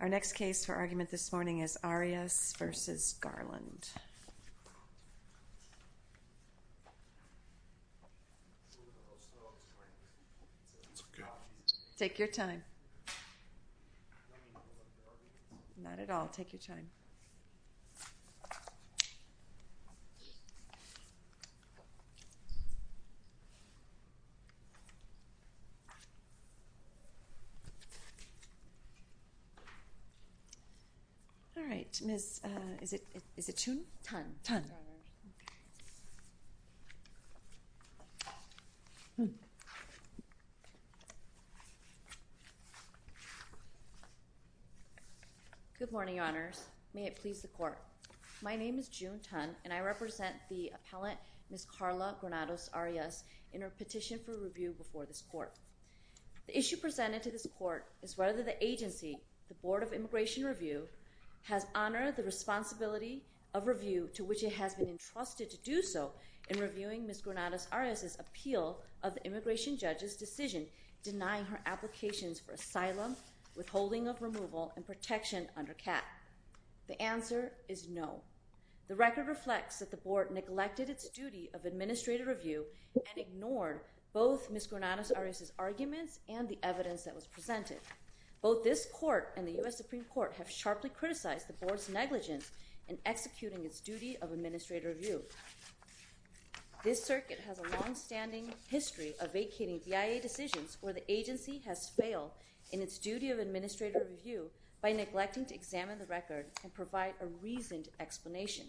Our next case for argument this morning is Arias v. Garland. Take your time. Not at all. Take your time. All right. Miss, is it June? Tun. Tun. Good morning, Your Honors. May it please the Court. My name is June Tun, and I represent the appellant, Ms. Karla Granados Arias, in her petition for review before this Court. The issue presented to this Court is whether the agency, the Board of Immigration Review, has honored the responsibility of review to which it has been entrusted to do so in reviewing Ms. Granados Arias' appeal of the immigration judge's decision denying her applications for asylum, withholding of removal, and protection under CAP. The answer is no. The record reflects that the Board neglected its duty of administrative review and ignored both Ms. Granados Arias' arguments and the evidence that was presented. Both this Court and the U.S. Supreme Court have sharply criticized the Board's negligence in executing its duty of administrative review. This circuit has a long-standing history of vacating BIA decisions where the agency has failed in its duty of administrative review by neglecting to examine the record and provide a reasoned explanation.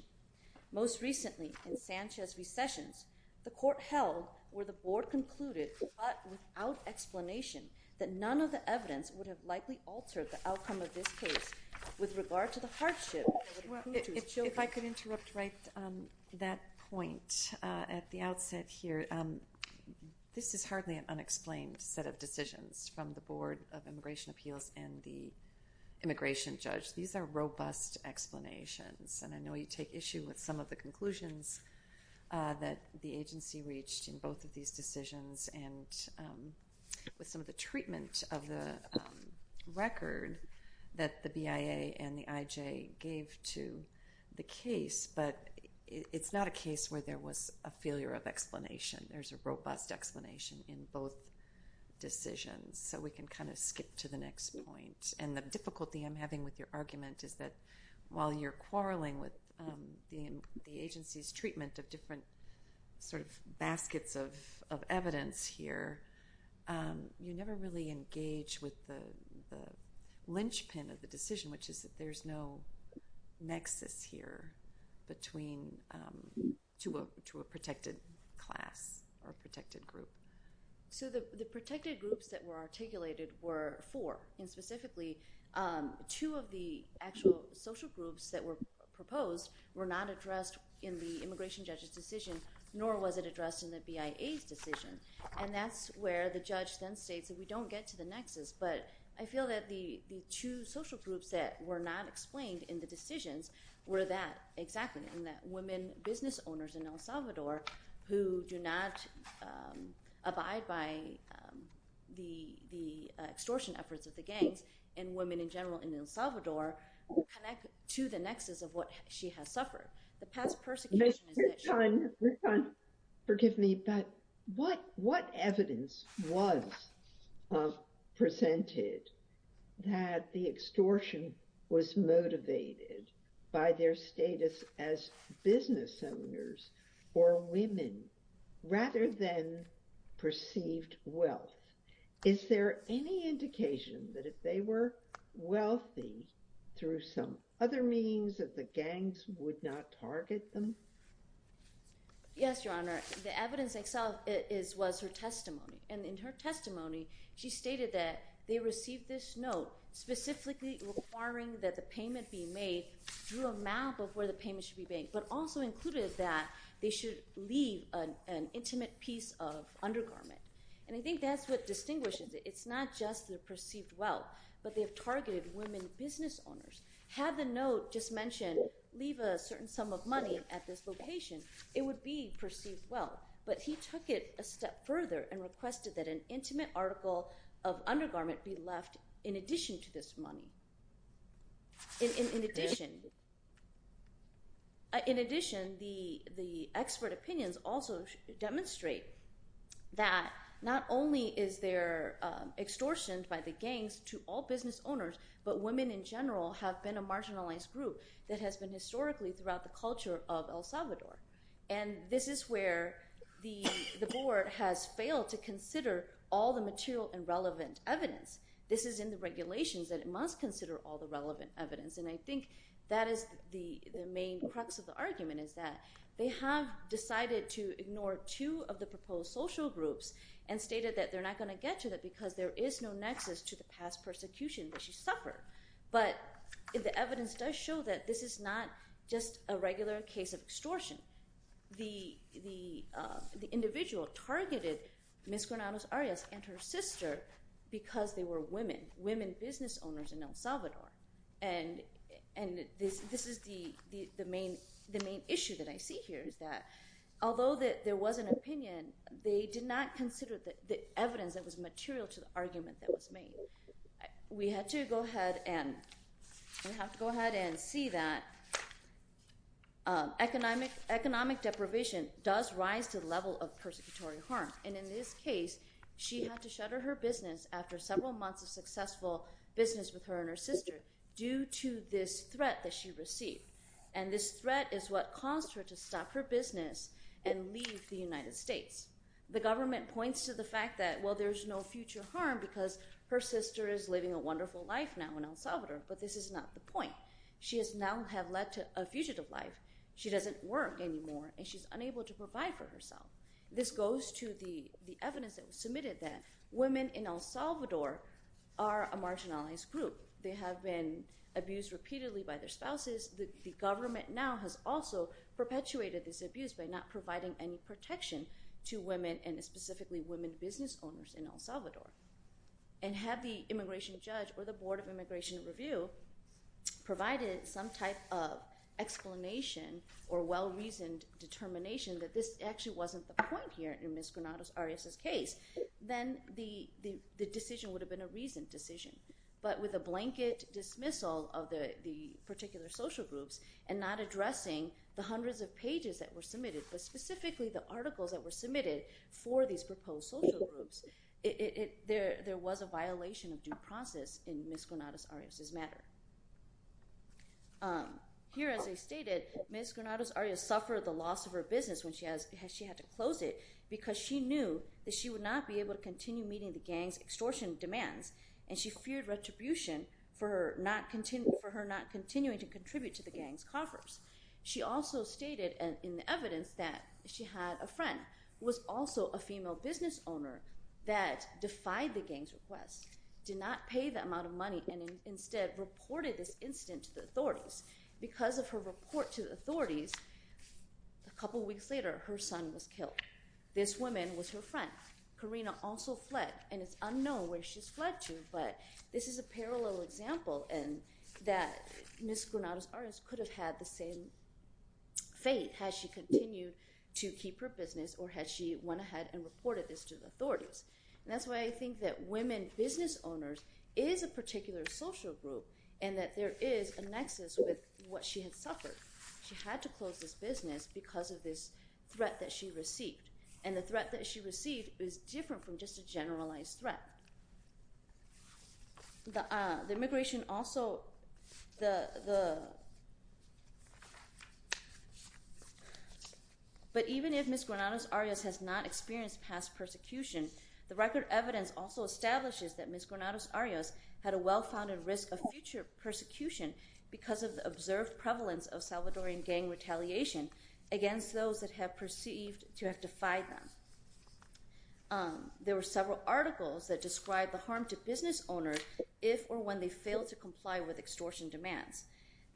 Most recently, in Sanchez v. Sessions, the Court held where the Board concluded, but without explanation, that none of the evidence would have likely altered the outcome of this case with regard to the hardship that would prove to its children. If I could interrupt right on that point at the outset here, this is hardly an unexplained set of decisions from the Board of Immigration Appeals and the immigration judge. These are robust explanations, and I know you take issue with some of the conclusions that the agency reached in both of these decisions and with some of the treatment of the record that the BIA and the IJ gave to the case, but it's not a case where there was a failure of explanation. There's a robust explanation in both decisions, so we can kind of skip to the next point. And the difficulty I'm having with your argument is that while you're quarreling with the agency's treatment of different sort of baskets of evidence here, you never really engage with the linchpin of the decision, which is that there's no nexus here to a protected class or protected group. So the protected groups that were articulated were four. And specifically, two of the actual social groups that were proposed were not addressed in the immigration judge's decision, nor was it addressed in the BIA's decision. And that's where the judge then states that we don't get to the nexus, but I feel that the two social groups that were not explained in the decisions were that, exactly, and that women business owners in El Salvador who do not abide by the extortion efforts of the gangs and women in general in El Salvador connect to the nexus of what she has suffered. The past persecution is that she- John, forgive me, but what evidence was presented that the extortion was motivated by their status as business owners or women rather than perceived wealth? Is there any indication that if they were wealthy through some other means that the gangs would not target them? Yes, Your Honor. The evidence itself was her testimony. And in her testimony, she stated that they received this note specifically requiring that the payment be made through a map of where the payment should be made, but also included that they should leave an intimate piece of undergarment. And I think that's what distinguishes it. It's not just the perceived wealth, but they have targeted women business owners. Had the note just mentioned leave a certain sum of money at this location, it would be perceived wealth. But he took it a step further and requested that an intimate article of undergarment be left in addition to this money. In addition, the expert opinions also demonstrate that not only is there extortion by the gangs to all business owners, but women in general have been a marginalized group that has been historically throughout the culture of El Salvador. And this is where the board has failed to consider all the material and relevant evidence. This is in the regulations that it must consider all the relevant evidence. And I think that is the main crux of the argument is that they have decided to ignore two of the proposed social groups and stated that they're not going to get to that because there is no nexus to the past persecution that she suffered. But the evidence does show that this is not just a regular case of extortion. The individual targeted Ms. Granados Arias and her sister because they were women, women business owners in El Salvador. And this is the main issue that I see here is that although there was an opinion, they did not consider the evidence that was material to the argument that was made. We have to go ahead and see that economic deprivation does rise to the level of persecutory harm. And in this case, she had to shutter her business after several months of successful business with her and her sister due to this threat that she received. And this threat is what caused her to stop her business and leave the United States. The government points to the fact that, well, there's no future harm because her sister is living a wonderful life now in El Salvador. But this is not the point. She has now have led a fugitive life. She doesn't work anymore, and she's unable to provide for herself. This goes to the evidence that was submitted that women in El Salvador are a marginalized group. They have been abused repeatedly by their spouses. The government now has also perpetuated this abuse by not providing any protection to women and specifically women business owners in El Salvador. And had the immigration judge or the Board of Immigration Review provided some type of explanation or well-reasoned determination that this actually wasn't the point here in Ms. Granados Arias' case, then the decision would have been a reasoned decision. But with a blanket dismissal of the particular social groups and not addressing the hundreds of pages that were submitted, but specifically the articles that were submitted for these proposed social groups, there was a violation of due process in Ms. Granados Arias' matter. Here, as I stated, Ms. Granados Arias suffered the loss of her business when she had to close it because she knew that she would not be able to continue meeting the gang's extortion demands. And she feared retribution for her not continuing to contribute to the gang's coffers. She also stated in the evidence that she had a friend who was also a female business owner that defied the gang's request, did not pay the amount of money, and instead reported this incident to the authorities. Because of her report to the authorities, a couple weeks later her son was killed. This woman was her friend. Karina also fled, and it's unknown where she's fled to, but this is a parallel example that Ms. Granados Arias could have had the same fate had she continued to keep her business or had she went ahead and reported this to the authorities. And that's why I think that women business owners is a particular social group and that there is a nexus with what she had suffered. She had to close this business because of this threat that she received. And the threat that she received is different from just a generalized threat. But even if Ms. Granados Arias has not experienced past persecution, the record evidence also establishes that Ms. Granados Arias had a well-founded risk of future persecution because of the observed prevalence of Salvadoran gang retaliation against those that have perceived to have defied them. There were several articles that described the harm to business owners if or when they failed to comply with extortion demands.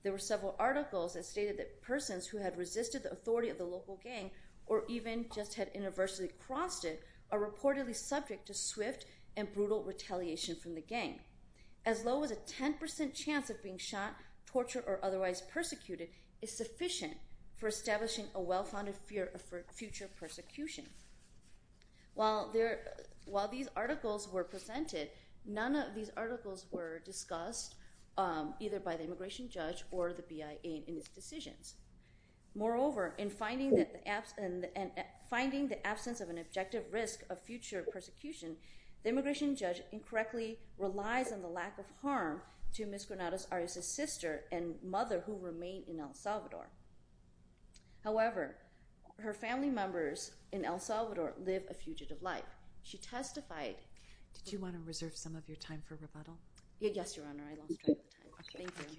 There were several articles that stated that persons who had resisted the authority of the local gang or even just had inadvertently crossed it are reportedly subject to swift and brutal retaliation from the gang. As low as a 10% chance of being shot, tortured, or otherwise persecuted is sufficient for establishing a well-founded fear of future persecution. While these articles were presented, none of these articles were discussed either by the immigration judge or the BIA in its decisions. Moreover, in finding the absence of an objective risk of future persecution, the immigration judge incorrectly relies on the lack of harm to Ms. Granados Arias' sister and mother who remain in El Salvador. However, her family members in El Salvador live a fugitive life. She testified... Did you want to reserve some of your time for rebuttal? Yes, Your Honor. I lost track of time. Thank you. Thank you.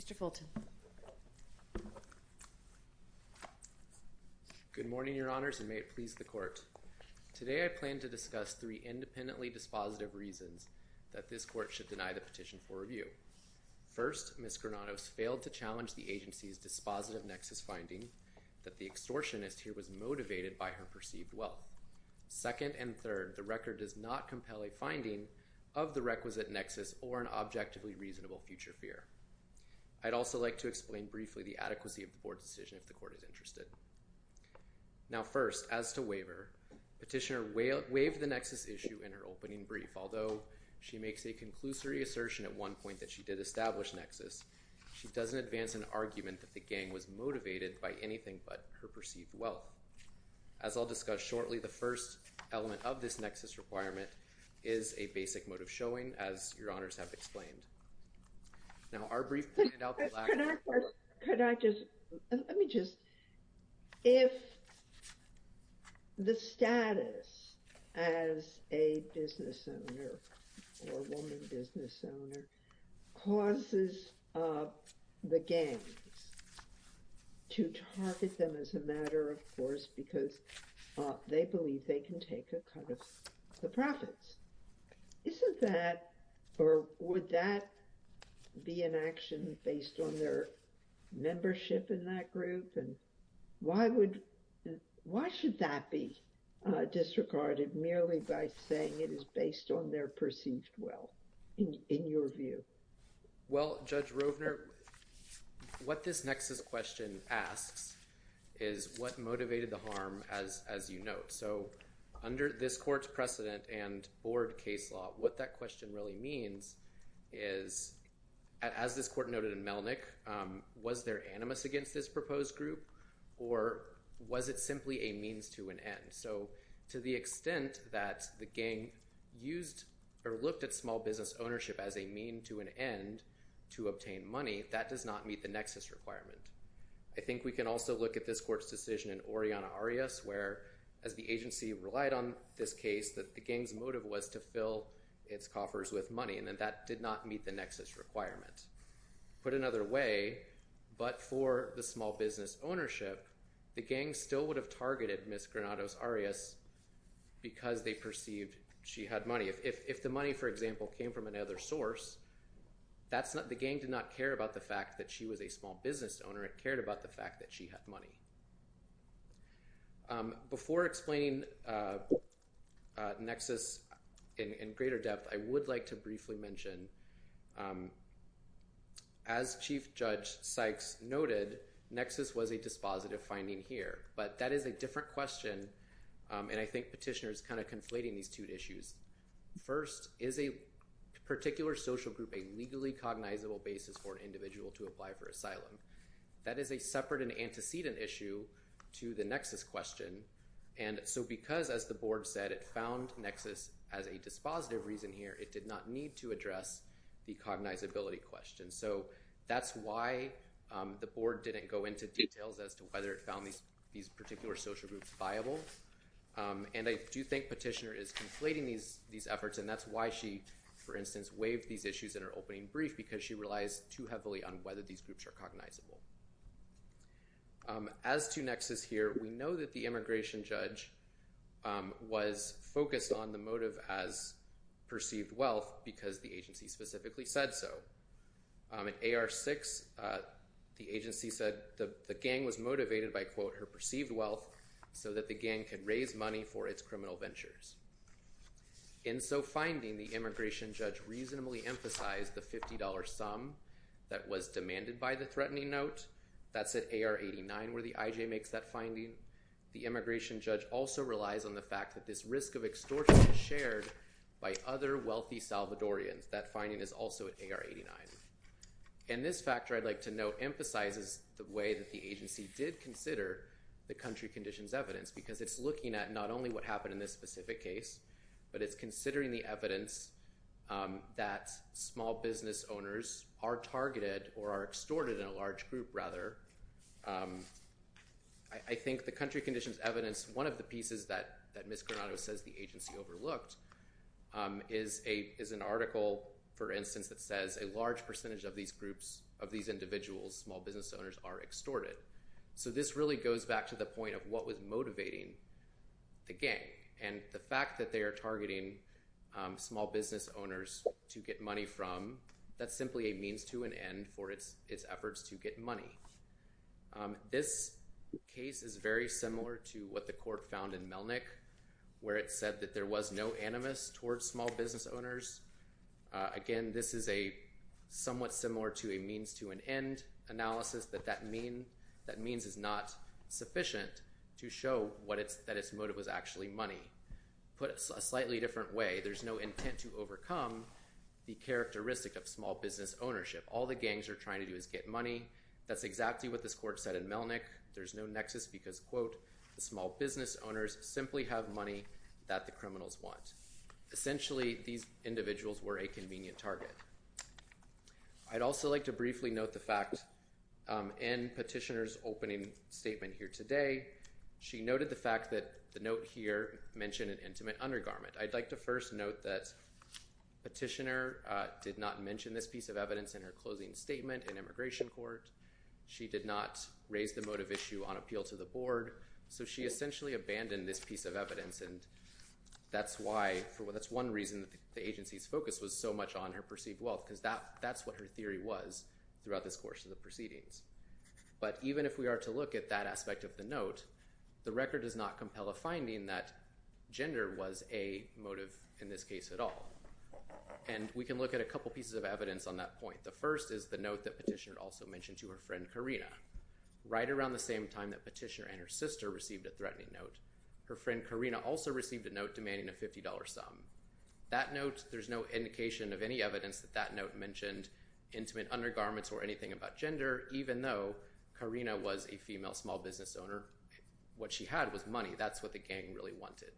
Mr. Fulton. Good morning, Your Honors, and may it please the Court. Today I plan to discuss three independently dispositive reasons that this Court should deny the petition for review. First, Ms. Granados failed to challenge the agency's dispositive nexus finding that the extortionist here was motivated by her perceived wealth. Second and third, the record does not compel a finding of the requisite nexus or an objectively reasonable future fear. I'd also like to explain briefly the adequacy of the Board's decision if the Court is interested. Now first, as to waiver, Petitioner waived the nexus issue in her opening brief. Although she makes a conclusory assertion at one point that she did establish nexus, she doesn't advance an argument that the gang was motivated by anything but her perceived wealth. As I'll discuss shortly, the first element of this nexus requirement is a basic motive showing, as Your Honors have explained. Now our brief pointed out the lack of... the gangs to target them as a matter of course because they believe they can take a cut of the profits. Isn't that, or would that be an action based on their membership in that group? Why should that be disregarded merely by saying it is based on their perceived wealth, in your view? Well, Judge Rovner, what this nexus question asks is what motivated the harm, as you note. So under this Court's precedent and Board case law, what that question really means is, as this Court noted in Melnick, was there animus against this proposed group, or was it simply a means to an end? So to the extent that the gang used or looked at small business ownership as a mean to an end to obtain money, that does not meet the nexus requirement. I think we can also look at this Court's decision in Oriana Arias, where as the agency relied on this case that the gang's motive was to fill its coffers with money, and that did not meet the nexus requirement. Put another way, but for the small business ownership, the gang still would have targeted Ms. Granados Arias because they perceived she had money. If the money, for example, came from another source, the gang did not care about the fact that she was a small business owner. It cared about the fact that she had money. Before explaining nexus in greater depth, I would like to briefly mention, as Chief Judge Sykes noted, nexus was a dispositive finding here. But that is a different question, and I think Petitioner is kind of conflating these two issues. First, is a particular social group a legally cognizable basis for an individual to apply for asylum? That is a separate and antecedent issue to the nexus question. And so because, as the Board said, it found nexus as a dispositive reason here, it did not need to address the cognizability question. So that's why the Board didn't go into details as to whether it found these particular social groups viable. And I do think Petitioner is conflating these efforts, and that's why she, for instance, waived these issues in her opening brief because she relies too heavily on whether these groups are cognizable. As to nexus here, we know that the immigration judge was focused on the motive as perceived wealth because the agency specifically said so. In AR-6, the agency said the gang was motivated by, quote, her perceived wealth so that the gang could raise money for its criminal ventures. In so finding, the immigration judge reasonably emphasized the $50 sum that was demanded by the threatening note. That's at AR-89 where the IJ makes that finding. The immigration judge also relies on the fact that this risk of extortion is shared by other wealthy Salvadorians. That finding is also at AR-89. And this factor, I'd like to note, emphasizes the way that the agency did consider the country conditions evidence because it's looking at not only what happened in this specific case, but it's considering the evidence that small business owners are targeted or are extorted in a large group, rather. I think the country conditions evidence, one of the pieces that Ms. Granado says the agency overlooked, is an article, for instance, that says a large percentage of these groups, of these individuals, small business owners, are extorted. So this really goes back to the point of what was motivating the gang. And the fact that they are targeting small business owners to get money from, that's simply a means to an end for its efforts to get money. This case is very similar to what the court found in Melnick where it said that there was no animus towards small business owners. Again, this is somewhat similar to a means to an end analysis, that that means is not sufficient to show that its motive was actually money. Put a slightly different way, there's no intent to overcome the characteristic of small business ownership. All the gangs are trying to do is get money. That's exactly what this court said in Melnick. There's no nexus because, quote, the small business owners simply have money that the criminals want. Essentially, these individuals were a convenient target. I'd also like to briefly note the fact in Petitioner's opening statement here today, she noted the fact that the note here mentioned an intimate undergarment. I'd like to first note that Petitioner did not mention this piece of evidence in her closing statement in Immigration Court. She did not raise the motive issue on appeal to the board. So she essentially abandoned this piece of evidence, and that's why, that's one reason the agency's focus was so much on her perceived wealth because that's what her theory was throughout this course of the proceedings. But even if we are to look at that aspect of the note, the record does not compel a finding that gender was a motive in this case at all. And we can look at a couple pieces of evidence on that point. The first is the note that Petitioner also mentioned to her friend Karina. Right around the same time that Petitioner and her sister received a threatening note, her friend Karina also received a note demanding a $50 sum. That note, there's no indication of any evidence that that note mentioned intimate undergarments or anything about gender, even though Karina was a female small business owner. What she had was money. That's what the gang really wanted.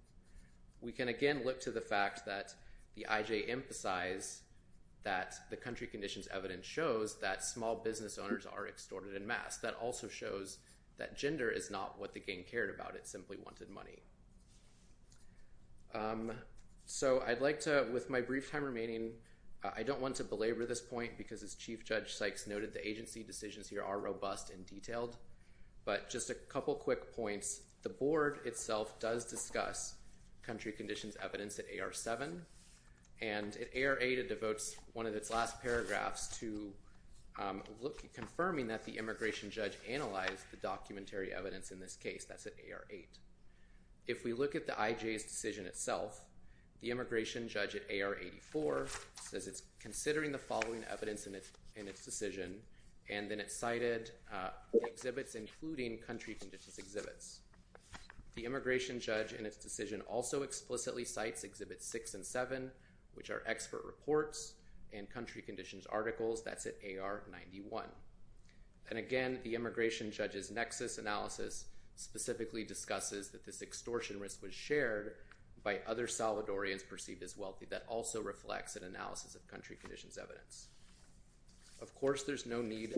We can, again, look to the fact that the IJ emphasized that the country conditions evidence shows that small business owners are extorted en masse. That also shows that gender is not what the gang cared about. It simply wanted money. So I'd like to, with my brief time remaining, I don't want to belabor this point because, as Chief Judge Sykes noted, the agency decisions here are robust and detailed. But just a couple quick points. The board itself does discuss country conditions evidence at AR-7. And at AR-8, it devotes one of its last paragraphs to confirming that the immigration judge analyzed the documentary evidence in this case. That's at AR-8. If we look at the IJ's decision itself, the immigration judge at AR-84 says it's considering the following evidence in its decision. And then it cited exhibits, including country conditions exhibits. The immigration judge in its decision also explicitly cites Exhibits 6 and 7, which are expert reports and country conditions articles. That's at AR-91. And, again, the immigration judge's nexus analysis specifically discusses that this extortion risk was shared by other Salvadorians perceived as wealthy. That also reflects an analysis of country conditions evidence. Of course, there's no need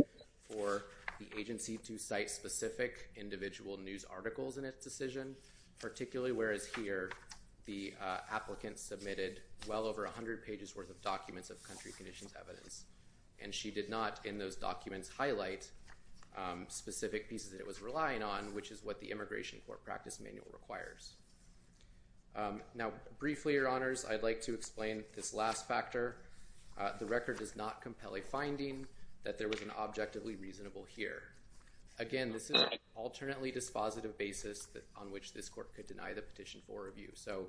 for the agency to cite specific individual news articles in its decision, particularly whereas here the applicant submitted well over 100 pages worth of documents of country conditions evidence. And she did not, in those documents, highlight specific pieces that it was relying on, which is what the immigration court practice manual requires. Now, briefly, Your Honors, I'd like to explain this last factor. The record does not compel a finding that there was an objectively reasonable fear. Again, this is an alternately dispositive basis on which this court could deny the petition for review. So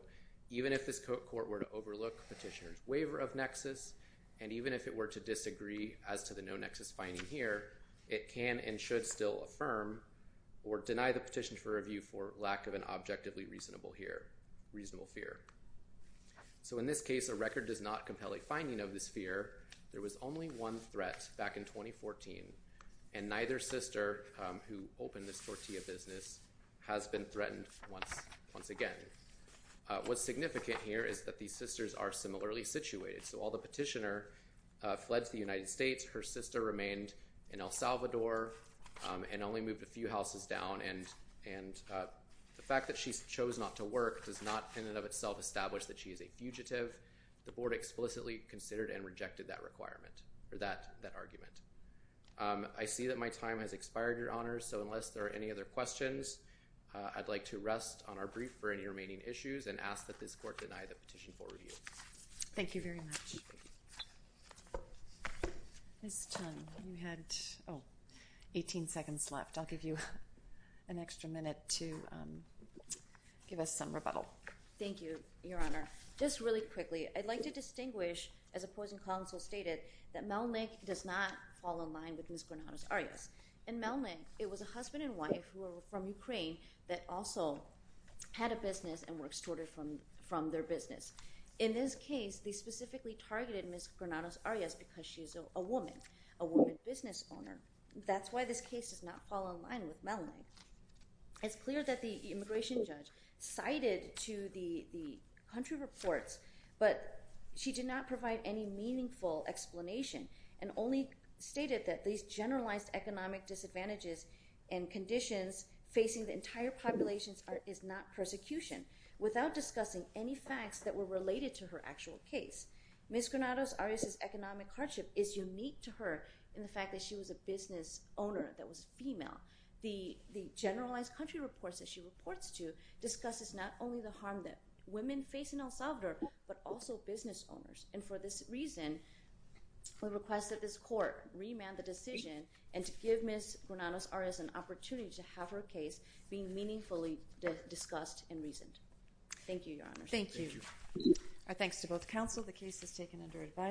even if this court were to overlook petitioner's waiver of nexus, and even if it were to disagree as to the no nexus finding here, it can and should still affirm or deny the petition for review for lack of an objectively reasonable fear. So in this case, a record does not compel a finding of this fear. There was only one threat back in 2014, and neither sister who opened this tortilla business has been threatened once again. What's significant here is that these sisters are similarly situated. So while the petitioner fled to the United States, her sister remained in El Salvador and only moved a few houses down. And the fact that she chose not to work does not in and of itself establish that she is a fugitive. The board explicitly considered and rejected that requirement or that argument. I see that my time has expired, Your Honors. So unless there are any other questions, I'd like to rest on our brief for any remaining issues and ask that this court deny the petition for review. Thank you very much. Ms. Tung, you had 18 seconds left. I'll give you an extra minute to give us some rebuttal. Thank you, Your Honor. Just really quickly, I'd like to distinguish, as opposing counsel stated, that Melnyk does not fall in line with Ms. Granados-Arias. In Melnyk, it was a husband and wife who were from Ukraine that also had a business and were extorted from their business. In this case, they specifically targeted Ms. Granados-Arias because she is a woman, a woman business owner. That's why this case does not fall in line with Melnyk. It's clear that the immigration judge cited to the country reports, but she did not provide any meaningful explanation and only stated that these generalized economic disadvantages and conditions facing the entire population is not persecution, without discussing any facts that were related to her actual case. Ms. Granados-Arias' economic hardship is unique to her in the fact that she was a business owner that was female. The generalized country reports that she reports to discusses not only the harm that women face in El Salvador, but also business owners. And for this reason, we request that this court remand the decision and to give Ms. Granados-Arias an opportunity to have her case be meaningfully discussed and reasoned. Thank you, Your Honor. Thank you. Our thanks to both counsel. The case is taken under advisory.